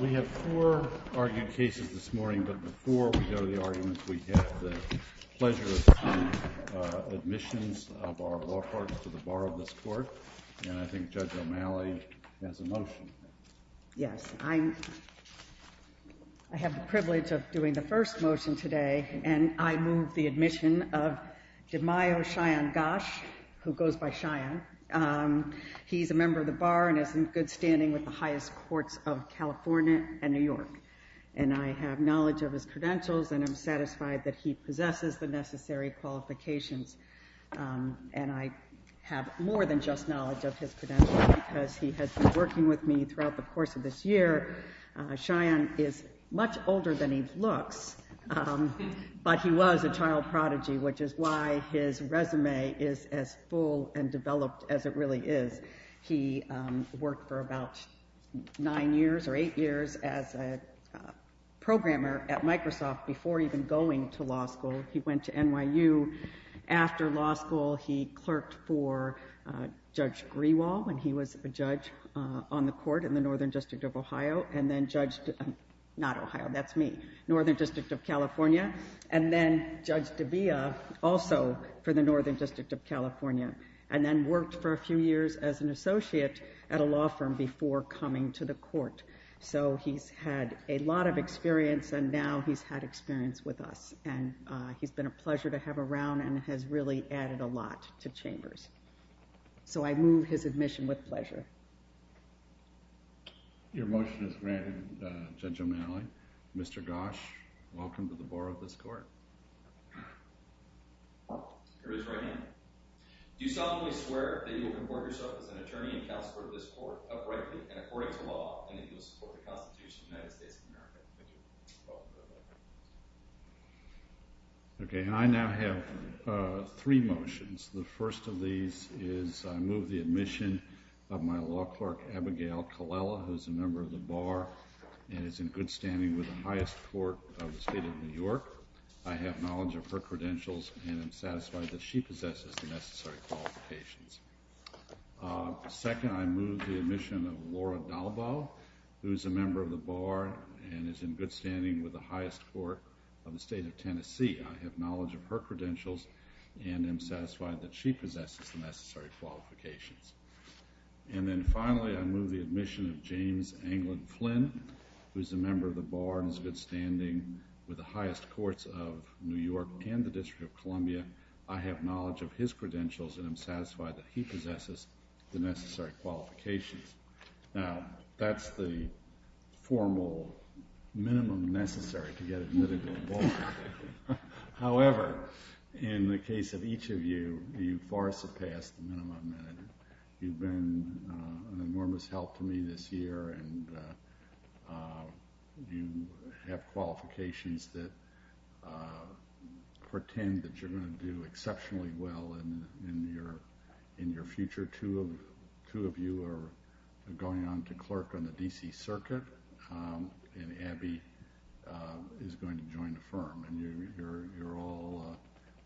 We have four argued cases this morning, but before we go to the arguments, we have the pleasure of some admissions of our law courts to the Bar of this Court, and I think Judge O'Malley has a motion. Yes, I have the privilege of doing the first motion today, and I move the admission of Demayo Cheyenne Gosch, who goes by Cheyenne. He's a member of the Bar and is in good standing with the highest courts of California and New York, and I have knowledge of his credentials, and I'm satisfied that he possesses the necessary qualifications. And I have more than just knowledge of his credentials because he has been working with me throughout the course of this year. Cheyenne is much older than he looks, but he was a child prodigy, which is why his resume is as full and developed as it really is. He worked for about nine years or eight years as a programmer at Microsoft before even going to law school. He went to NYU. After law school, he clerked for Judge Grewal, and he was a judge on the Court in the Northern District of Ohio, and then Judge—not Ohio, that's me—Northern District of California, and then Judge Dabia also for the Northern District of California, and then worked for a few years as an associate at a law firm before coming to the Court. So he's had a lot of experience, and now he's had experience with us, and he's been a pleasure to have around and has really added a lot to Chambers. So I move his admission with pleasure. Your motion is granted, Judge O'Malley. Mr. Gosch, welcome to the Board of this Court. Here is my hand. Do you solemnly swear that you will comport yourself as an attorney and counselor of this Court, uprightly and according to law, and that you will support the Constitution of the United States of America? Thank you. Welcome to the Board. Okay, and I now have three motions. The first of these is I move the admission of my law clerk, Abigail Colella, who is a member of the Bar and is in good standing with the highest court of the state of New York. I have knowledge of her credentials and am satisfied that she possesses the necessary qualifications. Second, I move the admission of Laura Dalbaugh, who is a member of the Bar and is in good standing with the highest court of the state of Tennessee. I have knowledge of her credentials and am satisfied that she possesses the necessary qualifications. And then finally, I move the admission of James Anglin Flynn, who is a member of the Bar and is in good standing with the highest courts of New York and the District of Columbia. I have knowledge of his credentials and am satisfied that he possesses the necessary qualifications. Now, that's the formal minimum necessary to get admitted to a Bar. However, in the case of each of you, you've far surpassed the minimum. You've been an enormous help to me this year and you have qualifications that pretend that you're going to do exceptionally well in your future. This year, two of you are going on to clerk on the D.C. Circuit and Abby is going to join the firm. You're all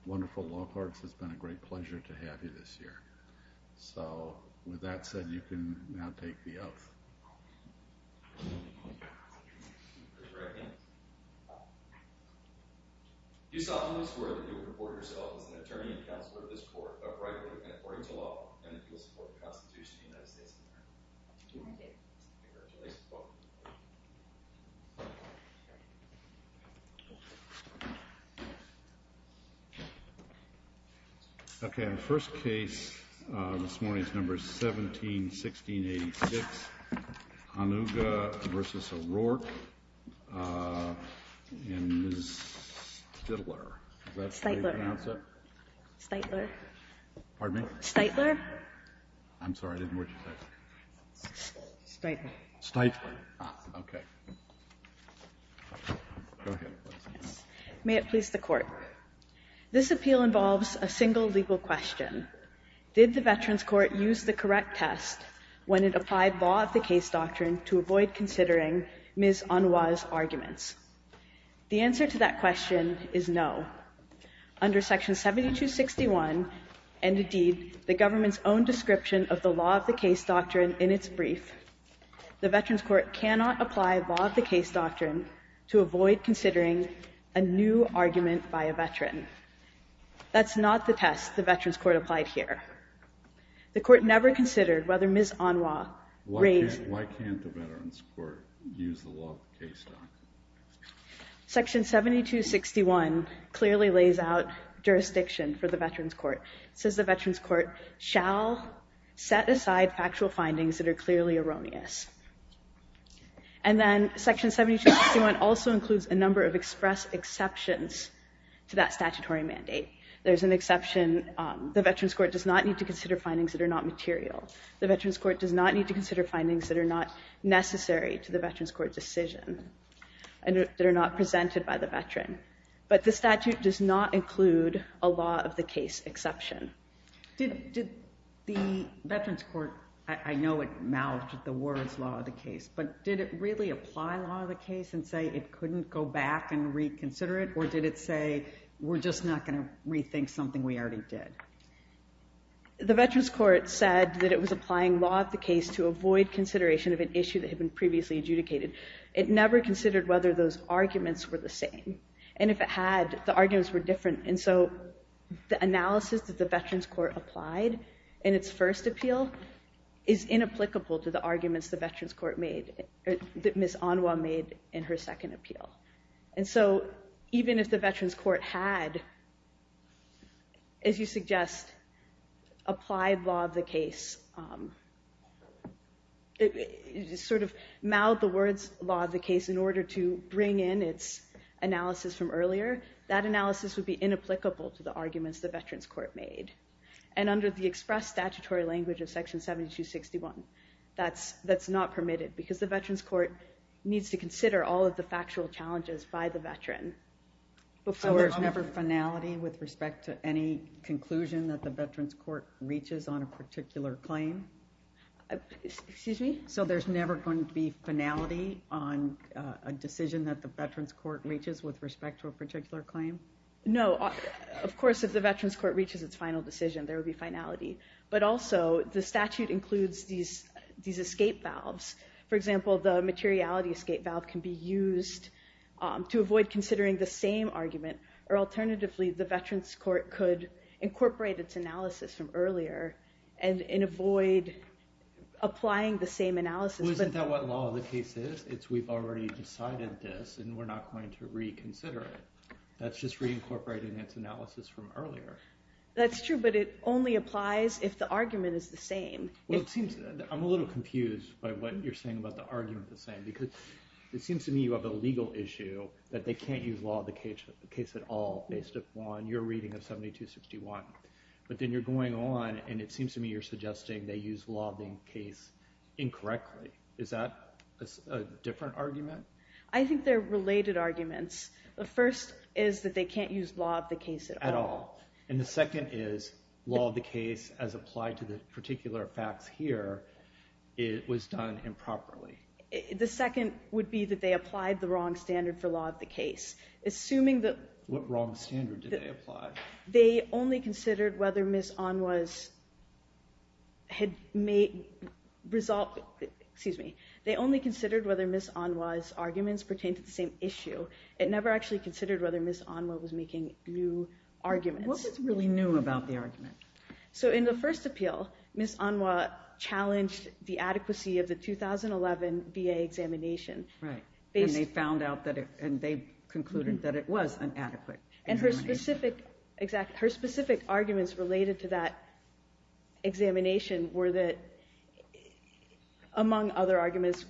wonderful law clerks. It's been a great pleasure to have you this year. So, with that said, you can now take the oath. Raise your right hand. You solemnly swear that you will report yourself as an attorney and counselor to this court, upright and according to law, and that you will support the Constitution of the United States of America. Congratulations. Welcome to the court. Okay, our first case this morning is number 171686, Anuga v. O'Rourke and Ms. Stitler. Is that how you pronounce it? Stitler. Pardon me? Stitler. I'm sorry, I didn't hear what you said. Stitler. Stitler. Okay. May it please the Court. This appeal involves a single legal question. Did the Veterans Court use the correct test when it applied law of the case doctrine to avoid considering Ms. Anuga's arguments? The answer to that question is no. Under Section 7261 and, indeed, the government's own description of the law of the case doctrine in its brief, the Veterans Court cannot apply law of the case doctrine to avoid considering a new argument by a veteran. That's not the test the Veterans Court applied here. The Court never considered whether Ms. Anuga raised— Why can't the Veterans Court use the law of the case doctrine? Section 7261 clearly lays out jurisdiction for the Veterans Court. It says the Veterans Court shall set aside factual findings that are clearly erroneous. And then Section 7261 also includes a number of express exceptions to that statutory mandate. There's an exception. The Veterans Court does not need to consider findings that are not material. The Veterans Court does not need to consider findings that are not necessary to the Veterans Court decision and that are not presented by the veteran. But the statute does not include a law of the case exception. Did the Veterans Court—I know it mouthed the words law of the case, but did it really apply law of the case and say it couldn't go back and reconsider it, or did it say we're just not going to rethink something we already did? The Veterans Court said that it was applying law of the case to avoid consideration of an issue that had been previously adjudicated. It never considered whether those arguments were the same. And if it had, the arguments were different. And so the analysis that the Veterans Court applied in its first appeal is inapplicable to the arguments the Veterans Court made— that Ms. Anuga made in her second appeal. And so even if the Veterans Court had, as you suggest, applied law of the case, sort of mouthed the words law of the case in order to bring in its analysis from earlier, that analysis would be inapplicable to the arguments the Veterans Court made. And under the express statutory language of Section 7261, that's not permitted because the Veterans Court needs to consider all of the factual challenges by the veteran. So there's never finality with respect to any conclusion that the Veterans Court reaches on a particular claim? Excuse me? So there's never going to be finality on a decision that the Veterans Court reaches with respect to a particular claim? No. Of course, if the Veterans Court reaches its final decision, there will be finality. But also, the statute includes these escape valves. For example, the materiality escape valve can be used to avoid considering the same argument. Or alternatively, the Veterans Court could incorporate its analysis from earlier and avoid applying the same analysis. Well, isn't that what law of the case is? It's we've already decided this, and we're not going to reconsider it. That's just reincorporating its analysis from earlier. That's true, but it only applies if the argument is the same. Well, it seems I'm a little confused by what you're saying about the argument the same because it seems to me you have a legal issue that they can't use law of the case at all based upon your reading of 7261. But then you're going on, and it seems to me you're suggesting they use law of the case incorrectly. Is that a different argument? I think they're related arguments. The first is that they can't use law of the case at all. And the second is law of the case, as applied to the particular facts here, was done improperly. The second would be that they applied the wrong standard for law of the case. What wrong standard did they apply? They only considered whether Ms. Onwa's arguments pertained to the same issue. It never actually considered whether Ms. Onwa was making new arguments. What was really new about the argument? In the first appeal, Ms. Onwa challenged the adequacy of the 2011 VA examination. And they concluded that it was inadequate. And her specific arguments related to that examination were that, among other arguments,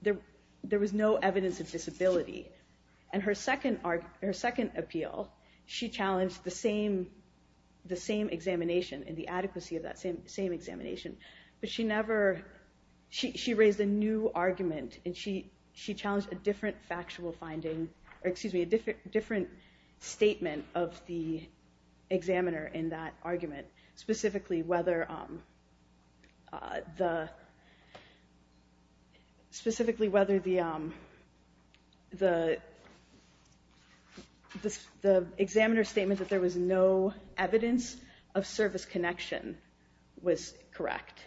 there was no evidence of disability. In her second appeal, she challenged the same examination and the adequacy of that same examination. But she raised a new argument. She challenged a different statement of the examiner in that argument, specifically whether the examiner's statement that there was no evidence of service connection was correct.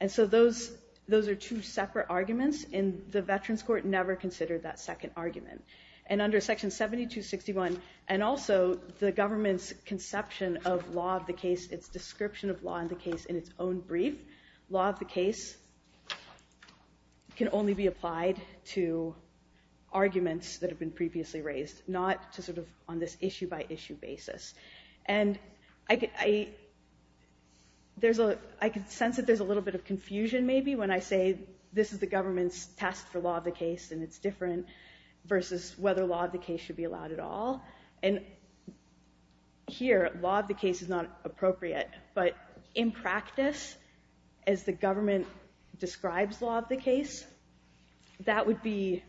And so those are two separate arguments. And the Veterans Court never considered that second argument. And under Section 7261, and also the government's conception of law of the case, its description of law of the case in its own brief, law of the case can only be applied to arguments that have been previously raised, not on this issue-by-issue basis. And I can sense that there's a little bit of confusion, maybe, when I say this is the government's test for law of the case and it's different versus whether law of the case should be allowed at all. And here, law of the case is not appropriate. But in practice, as the government describes law of the case, that would be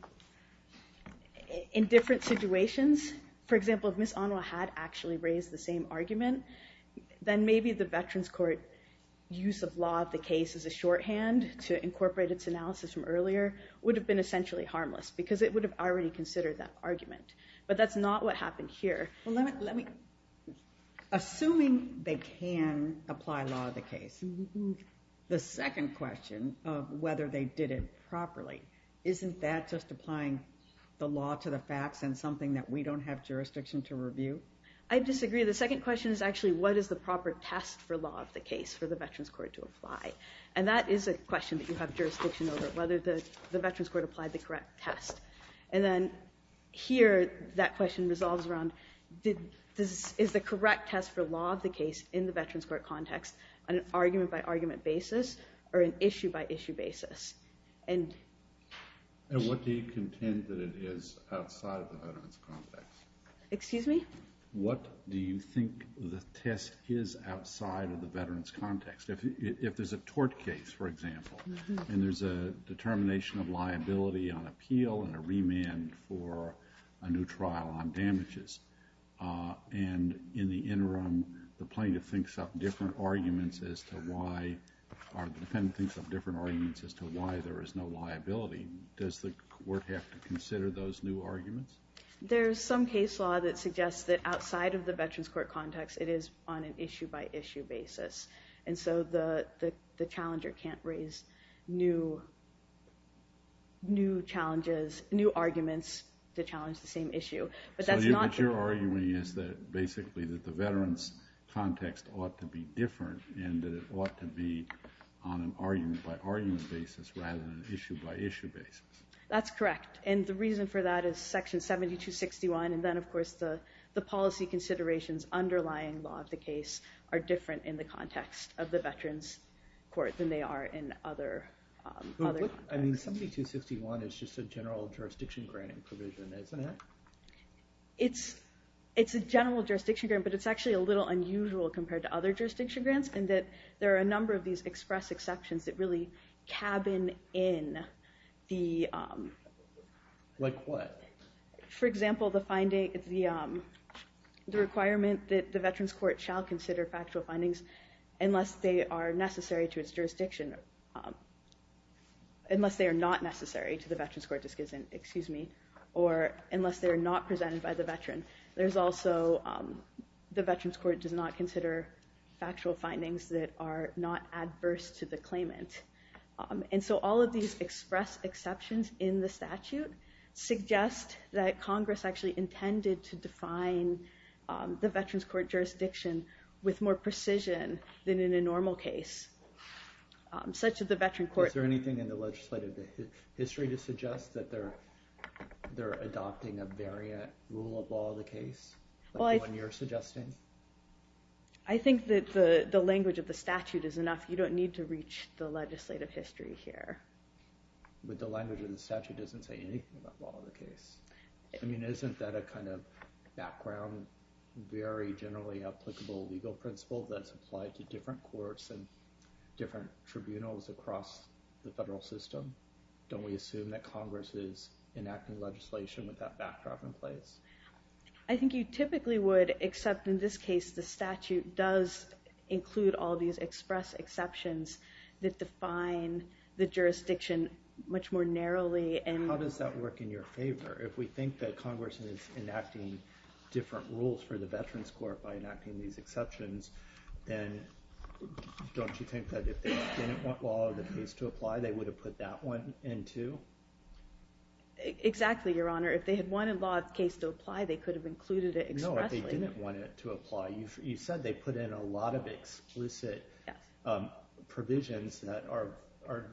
in different situations. For example, if Ms. Onwa had actually raised the same argument, then maybe the Veterans Court use of law of the case as a shorthand to incorporate its analysis from earlier would have been essentially harmless because it would have already considered that argument. But that's not what happened here. Assuming they can apply law of the case, the second question of whether they did it properly, isn't that just applying the law to the facts and something that we don't have jurisdiction to review? I disagree. The second question is actually what is the proper test for law of the case for the Veterans Court to apply? And that is a question that you have jurisdiction over, whether the Veterans Court applied the correct test. And then here, that question resolves around is the correct test for law of the case in the Veterans Court context an argument-by-argument basis or an issue-by-issue basis? And what do you contend that it is outside the Veterans context? Excuse me? What do you think the test is outside of the Veterans context? If there's a tort case, for example, and there's a determination of liability on appeal and a remand for a new trial on damages, and in the interim the plaintiff thinks up different arguments as to why or the defendant thinks up different arguments as to why there is no liability, does the court have to consider those new arguments? There's some case law that suggests that outside of the Veterans Court context it is on an issue-by-issue basis. And so the challenger can't raise new challenges, new arguments to challenge the same issue. But that's not true. So what you're arguing is that basically that the Veterans context ought to be different and that it ought to be on an argument-by-argument basis rather than an issue-by-issue basis. That's correct. And the reason for that is Section 7261. And then, of course, the policy considerations underlying law of the case are different in the context of the Veterans Court than they are in other courts. I mean, 7261 is just a general jurisdiction granting provision, isn't it? It's a general jurisdiction grant, but it's actually a little unusual compared to other jurisdiction grants in that there are a number of these express exceptions that really cabin in the... Like what? For example, the requirement that the Veterans Court shall consider factual findings unless they are necessary to its jurisdiction, unless they are not necessary to the Veterans Court decision, excuse me, or unless they are not presented by the veteran. There's also the Veterans Court does not consider factual findings that are not adverse to the claimant. And so all of these express exceptions in the statute suggest that Congress actually intended to define the Veterans Court jurisdiction with more precision than in a normal case. Such that the Veterans Court... Is there anything in the legislative history to suggest that they're adopting a variant rule of law of the case, like the one you're suggesting? I think that the language of the statute is enough. You don't need to reach the legislative history here. But the language of the statute doesn't say anything about law of the case. I mean, isn't that a kind of background, very generally applicable legal principle that's applied to different courts and different tribunals across the federal system? Don't we assume that Congress is enacting legislation with that backdrop in place? I think you typically would, except in this case, the statute does include all these express exceptions that define the jurisdiction much more narrowly. How does that work in your favor? If we think that Congress is enacting different rules for the Veterans Court by enacting these exceptions, then don't you think that if they didn't want law of the case to apply, they would have put that one in too? Exactly, Your Honor. If they had wanted law of the case to apply, they could have included it expressly. No, if they didn't want it to apply. You said they put in a lot of explicit provisions that are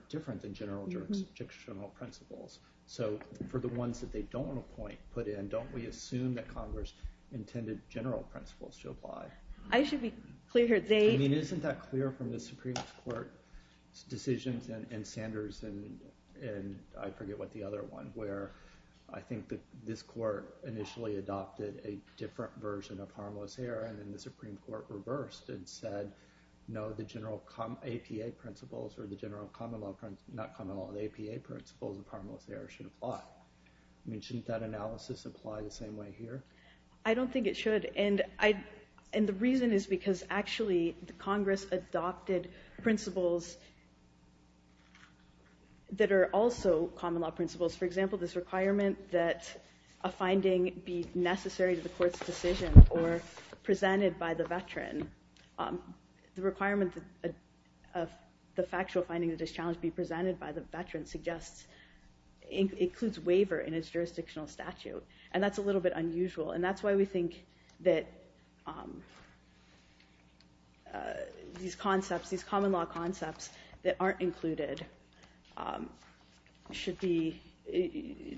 different than general jurisdictional principles. So for the ones that they don't want to put in, don't we assume that Congress intended general principles to apply? I should be clear here. I mean, isn't that clear from the Supreme Court's decisions and Sanders' and I forget what the other one, where I think that this court initially adopted a different version of harmless air and then the Supreme Court reversed and said, no, the general APA principles or the general common law principles, not common law, the APA principles of harmless air should apply. I mean, shouldn't that analysis apply the same way here? I don't think it should. And the reason is because actually Congress adopted principles that are also common law principles. For example, this requirement that a finding be necessary to the court's decision or presented by the veteran, the requirement of the factual finding of this challenge be presented by the veteran suggests it includes waiver in its jurisdictional statute. And that's a little bit unusual. And that's why we think that these concepts, these common law concepts that aren't included should be,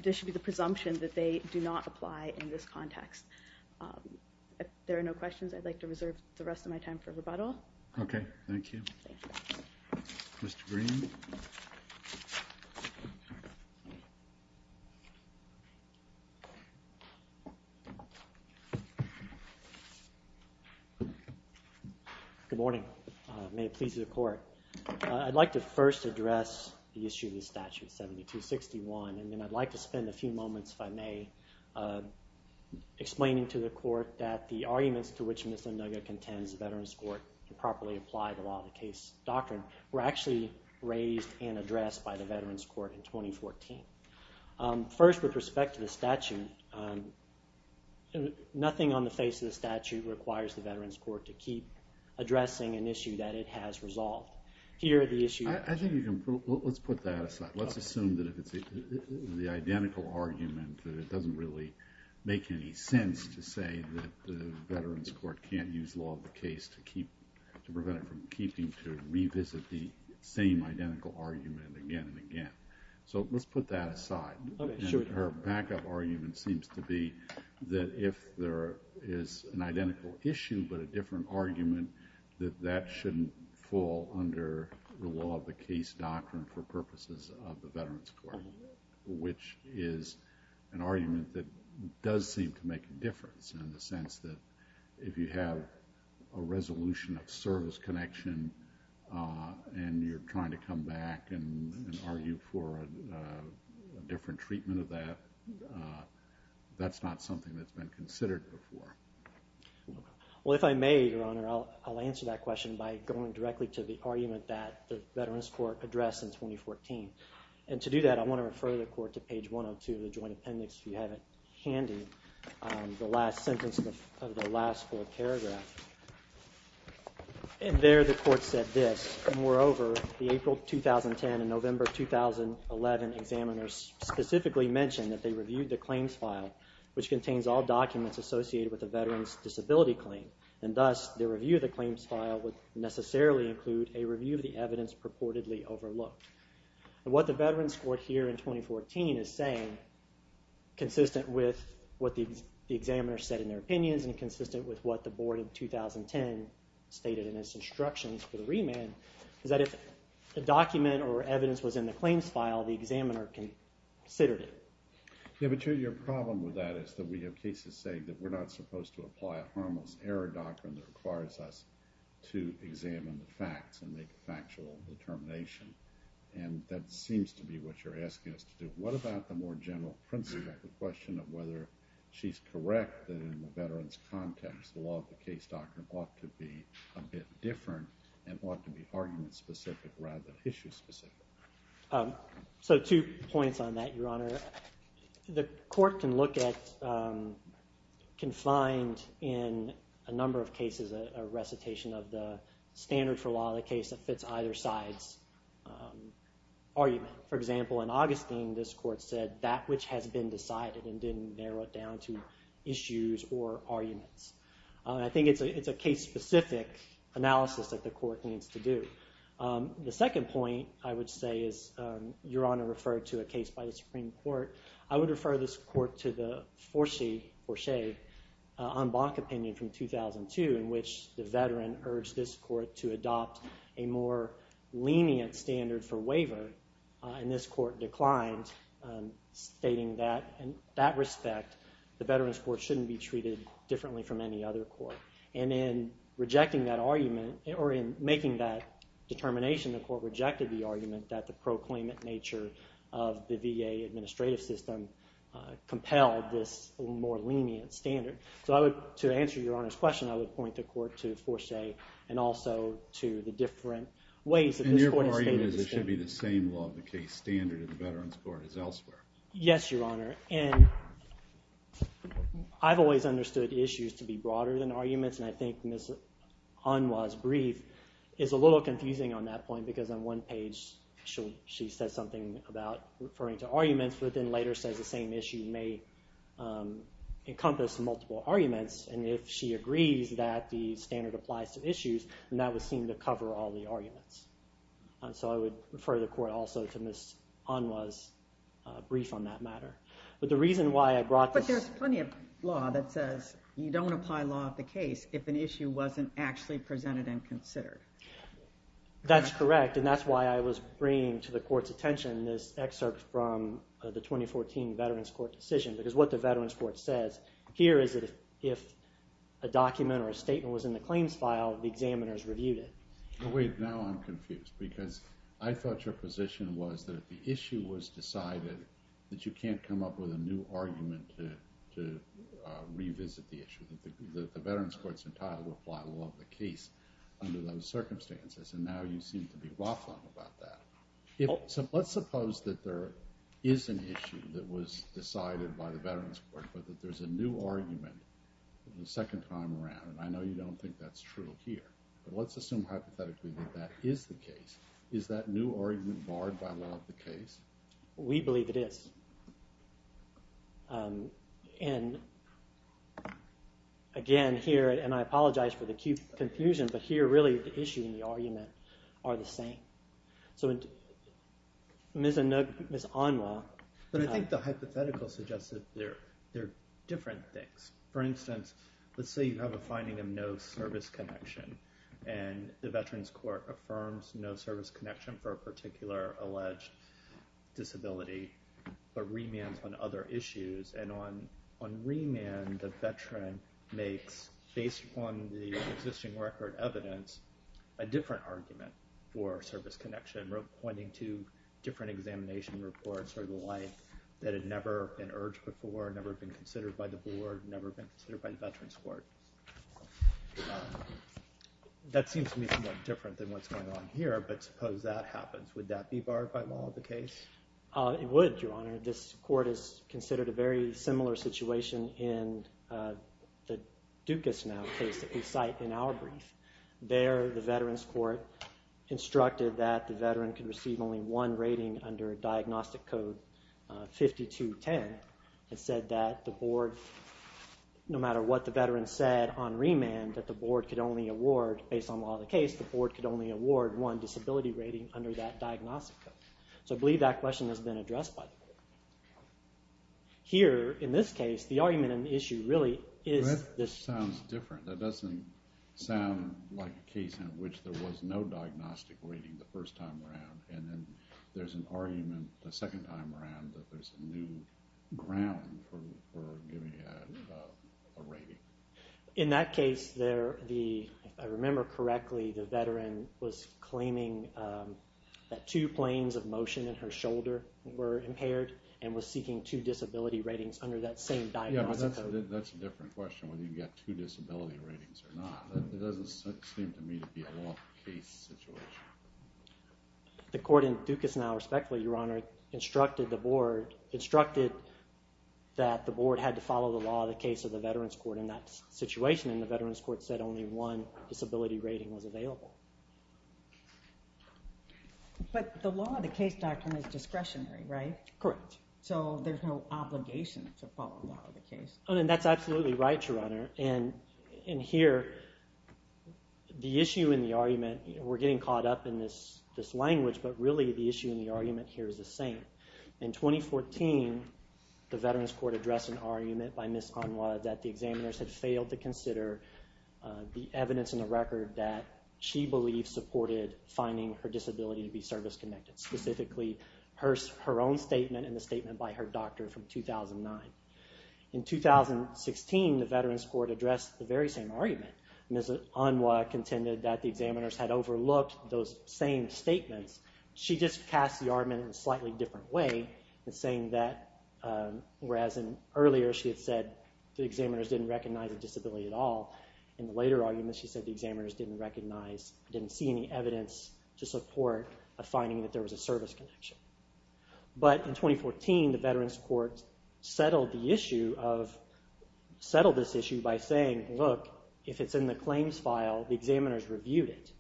there should be the presumption that they do not apply in this context. If there are no questions, I'd like to reserve the rest of my time for rebuttal. Okay. Thank you. Mr. Green. Good morning. May it please the court. I'd like to first address the issue of the statute 7261, and then I'd like to spend a few moments, if I may, explaining to the court that the arguments to which Ms. Nugget contends the Veterans Court to properly apply the law of the case doctrine were actually raised and addressed by the Veterans Court in 2014. First, with respect to the statute, nothing on the face of the statute requires the Veterans Court to keep addressing an issue that it has resolved. Here are the issues. I think you can, let's put that aside. Let's assume that if it's the identical argument that it doesn't really make any sense to say that the Veterans Court can't use law of the case to prevent it from keeping, to revisit the same identical argument again and again. So let's put that aside. Okay. Sure. Her backup argument seems to be that if there is an identical issue but a different argument, that that shouldn't fall under the law of the case doctrine for purposes of the Veterans Court, which is an argument that does seem to make a difference in the sense that if you have a resolution of service connection and you're trying to come back and argue for a different treatment of that, that's not something that's been considered before. Well, if I may, Your Honor, I'll answer that question by going directly to the argument that the Veterans Court addressed in 2014. And to do that, I want to refer the Court to page 102 of the Joint Appendix if you have it handy, the last sentence of the last full paragraph. And there the Court said this, Moreover, the April 2010 and November 2011 examiners specifically mentioned that they reviewed the claims file, which contains all documents associated with a veteran's disability claim, and thus the review of the claims file would necessarily include a review of the evidence purportedly overlooked. What the Veterans Court here in 2014 is saying, consistent with what the examiners said in their opinions and consistent with what the Board of 2010 stated in its instructions for the remand, is that if a document or evidence was in the claims file, the examiner considered it. Yeah, but your problem with that is that we have cases saying that we're not supposed to apply a harmless error doctrine that requires us to examine the facts and make factual determination. And that seems to be what you're asking us to do. What about the more general principle, the question of whether she's correct that in the veteran's context, the law of the case doctrine ought to be a bit different and ought to be argument-specific rather than issue-specific? So two points on that, Your Honor. The court can find in a number of cases a recitation of the standard for law of the case that fits either side's argument. For example, in Augustine, this court said, that which has been decided and didn't narrow it down to issues or arguments. I think it's a case-specific analysis that the court needs to do. The second point, I would say, is, Your Honor, referred to a case by the Supreme Court. I would refer this court to the Forshee on Bonk opinion from 2002, in which the veteran urged this court to adopt a more lenient standard for waiver. And this court declined, stating that, in that respect, the veteran's court shouldn't be treated differently from any other court. And in rejecting that argument, or in making that determination, the court rejected the argument that the proclaimant nature of the VA administrative system compelled this more lenient standard. So to answer Your Honor's question, I would point the court to Forshee and also to the different ways that this court has stated this standard. And your point is it should be the same law of the case standard in the veteran's court as elsewhere. Yes, Your Honor. I've always understood issues to be broader than arguments, and I think Ms. Onwa's brief is a little confusing on that point because on one page she says something about referring to arguments, but then later says the same issue may encompass multiple arguments. And if she agrees that the standard applies to issues, then that would seem to cover all the arguments. So I would refer the court also to Ms. Onwa's brief on that matter. But the reason why I brought this— But there's plenty of law that says you don't apply law of the case if an issue wasn't actually presented and considered. That's correct, and that's why I was bringing to the court's attention this excerpt from the 2014 veteran's court decision because what the veteran's court says here is that if a document or a statement was in the claims file, the examiners reviewed it. Now I'm confused because I thought your position was that if the issue was decided, that you can't come up with a new argument to revisit the issue. The veteran's court's entitled to apply law of the case under those circumstances, and now you seem to be raffling about that. Let's suppose that there is an issue that was decided by the veteran's court but that there's a new argument the second time around. I know you don't think that's true here, but let's assume hypothetically that that is the case. Is that new argument barred by law of the case? We believe it is. And again here, and I apologize for the confusion, but here really the issue and the argument are the same. So Ms. Onwa. But I think the hypothetical suggests that there are different things. For instance, let's say you have a finding of no service connection, and the veteran's court affirms no service connection for a particular alleged disability, but remands on other issues. And on remand, the veteran makes, based on the existing record evidence, a different argument for service connection, pointing to different examination reports or the like that had never been urged before, never been considered by the board, never been considered by the veterans court. That seems to me somewhat different than what's going on here, but suppose that happens. Would that be barred by law of the case? It would, Your Honor. This court has considered a very similar situation in the Dukas now case that we cite in our brief. There the veterans court instructed that the veteran could receive only one rating under diagnostic code 5210. It said that the board, no matter what the veteran said on remand, that the board could only award, based on law of the case, the board could only award one disability rating under that diagnostic code. So I believe that question has been addressed by the board. Here, in this case, the argument and the issue really is this. That sounds different. That doesn't sound like a case in which there was no diagnostic rating the first time around, and then there's an argument the second time around that there's a new ground for giving a rating. In that case, if I remember correctly, the veteran was claiming that two planes of motion in her shoulder were impaired and was seeking two disability ratings under that same diagnostic code. Yeah, but that's a different question, whether you get two disability ratings or not. It doesn't seem to me to be a law of the case situation. The court in Dukas now, respectfully, Your Honor, instructed that the board had to follow the law of the case of the veterans court in that situation, and the veterans court said only one disability rating was available. But the law of the case doctrine is discretionary, right? Correct. So there's no obligation to follow the law of the case. That's absolutely right, Your Honor. Here, the issue and the argument, we're getting caught up in this language, but really the issue and the argument here is the same. In 2014, the veterans court addressed an argument by Ms. Conway that the examiners had failed to consider the evidence in the record that she believed supported finding her disability to be service-connected, specifically her own statement and the statement by her doctor from 2009. In 2016, the veterans court addressed the very same argument. Ms. Conway contended that the examiners had overlooked those same statements. She just cast the argument in a slightly different way, saying that whereas earlier she had said the examiners didn't recognize a disability at all, in the later argument she said the examiners didn't recognize, didn't see any evidence to support a finding that there was a service connection. But in 2014, the veterans court settled this issue by saying, look, if it's in the claims file, the examiners reviewed it.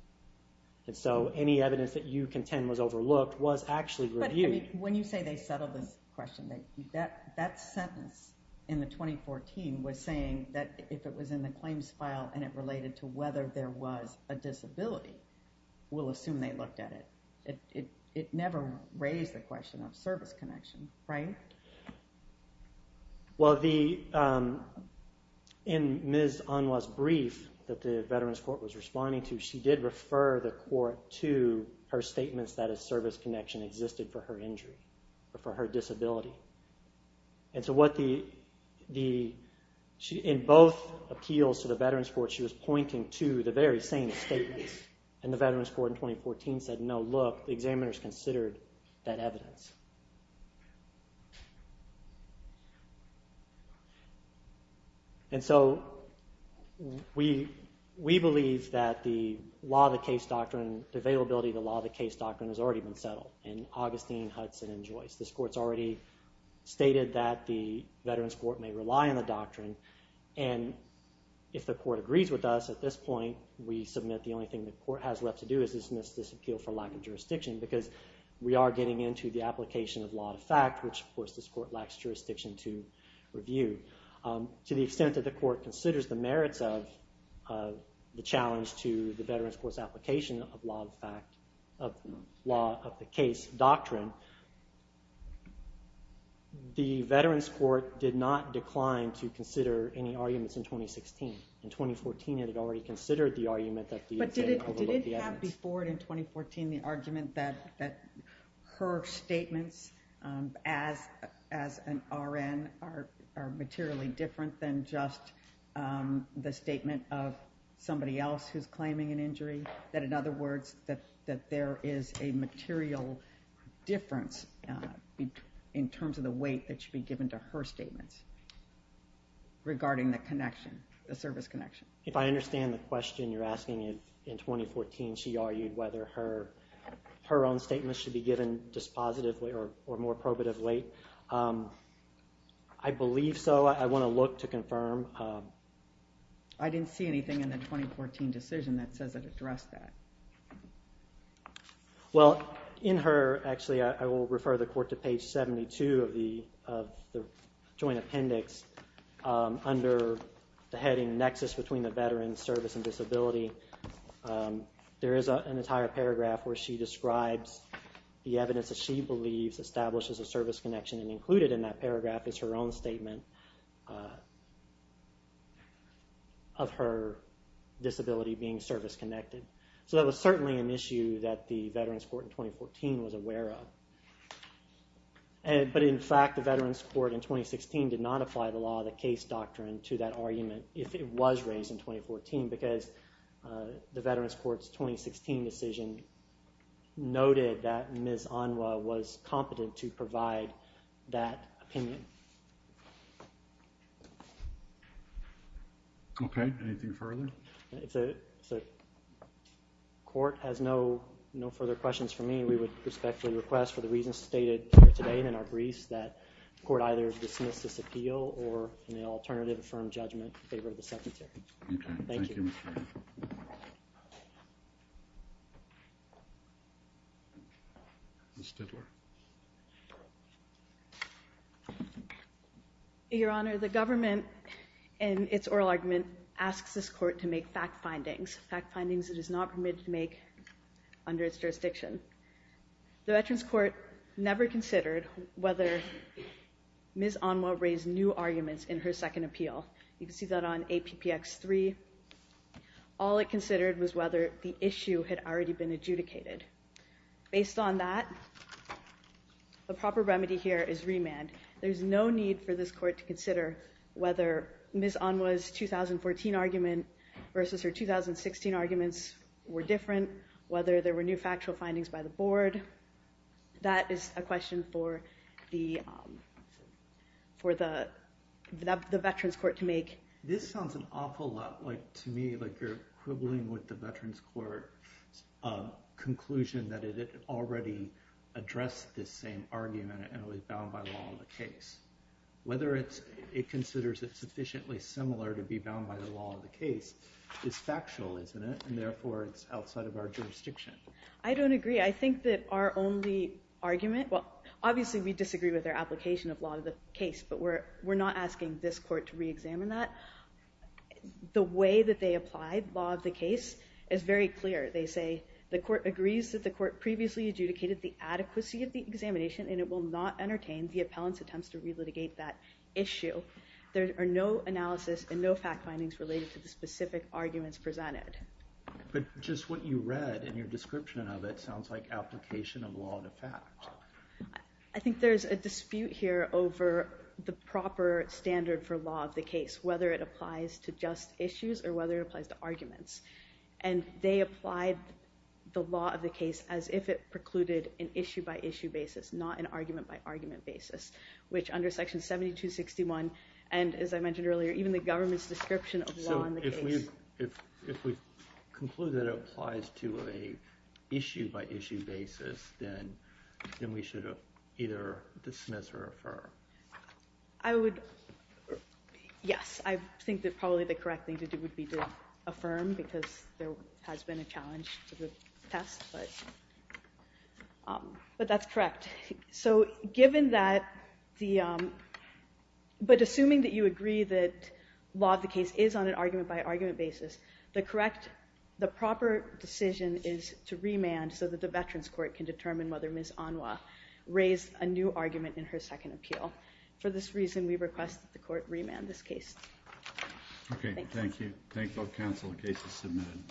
And so any evidence that you contend was overlooked was actually reviewed. But when you say they settled this question, that sentence in the 2014 was saying that if it was in the claims file and it related to whether there was a disability, we'll assume they looked at it. It never raised the question of service connection, right? Well, in Ms. Conway's brief that the veterans court was responding to, she did refer the court to her statements that a service connection existed for her injury, for her disability. And so in both appeals to the veterans court, she was pointing to the very same statements. And the veterans court in 2014 said, no, look, the examiners considered that evidence. And so we believe that the law of the case doctrine, the availability of the law of the case doctrine has already been settled in Augustine, Hudson, and Joyce. This court's already stated that the veterans court may rely on the doctrine. And if the court agrees with us at this point, we submit the only thing the court has left to do is dismiss this appeal for lack of jurisdiction because we are getting into the application of law of fact, which of course this court lacks jurisdiction to review. To the extent that the court considers the merits of the challenge to the veterans court's application of law of the case doctrine, the veterans court did not decline to consider any arguments in 2016. In 2014, it had already considered the argument that the examiner overlooked the evidence. Would there not be forward in 2014 the argument that her statements as an RN are materially different than just the statement of somebody else who's claiming an injury? That in other words, that there is a material difference in terms of the weight that should be given to her statements regarding the connection, the service connection? If I understand the question you're asking, in 2014 she argued whether her own statements should be given dispositively or more probatively. I believe so. I want to look to confirm. I didn't see anything in the 2014 decision that says it addressed that. Well, in her, actually I will refer the court to page 72 of the joint appendix under the heading nexus between the veterans, service, and disability. There is an entire paragraph where she describes the evidence that she believes establishes a service connection and included in that paragraph is her own statement of her disability being service connected. So that was certainly an issue that the veterans court in 2014 was aware of. But in fact, the veterans court in 2016 did not apply the law of the case doctrine to that argument if it was raised in 2014 because the veterans court's 2016 decision noted that Ms. Onwa was competent to provide that opinion. Okay. Anything further? The court has no further questions for me. Mr. Chairman, we would respectfully request for the reasons stated here today in our briefs that the court either dismiss this appeal or in the alternative affirm judgment in favor of the Secretary. Thank you. Your Honor, the government in its oral argument asks this court to make fact findings, fact findings it is not permitted to make under its jurisdiction. The veterans court never considered whether Ms. Onwa raised new arguments in her second appeal. You can see that on APPX3. All it considered was whether the issue had already been adjudicated. Based on that, the proper remedy here is remand. There is no need for this court to consider whether Ms. Onwa's 2014 argument versus her 2016 arguments were different, whether there were new factual findings by the board. That is a question for the veterans court to make. This sounds an awful lot like to me like you're quibbling with the veterans court's conclusion that it already addressed this same argument and it was bound by the law of the case. Whether it considers it sufficiently similar to be bound by the law of the case is factual, isn't it? And therefore it's outside of our jurisdiction. I don't agree. I think that our only argument, well obviously we disagree with their application of law of the case, but we're not asking this court to re-examine that. The way that they applied law of the case is very clear. They say the court agrees that the court previously adjudicated the adequacy of the examination and it will not entertain the appellant's attempts to re-litigate that issue. There are no analysis and no fact findings related to the specific arguments presented. But just what you read in your description of it sounds like application of law of the fact. I think there's a dispute here over the proper standard for law of the case, whether it applies to just issues or whether it applies to arguments. And they applied the law of the case as if it precluded an issue-by-issue basis, not an argument-by-argument basis, which under section 7261, and as I mentioned earlier, even the government's description of law in the case. So if we conclude that it applies to an issue-by-issue basis, then we should either dismiss or affirm? Yes, I think that probably the correct thing to do would be to affirm because there has been a challenge to the test. But that's correct. But assuming that you agree that law of the case is on an argument-by-argument basis, the proper decision is to remand so that the Veterans Court can determine whether Ms. Anwa raised a new argument in her second appeal. For this reason, we request that the court remand this case. Okay, thank you. Thank you all counsel. The case is submitted.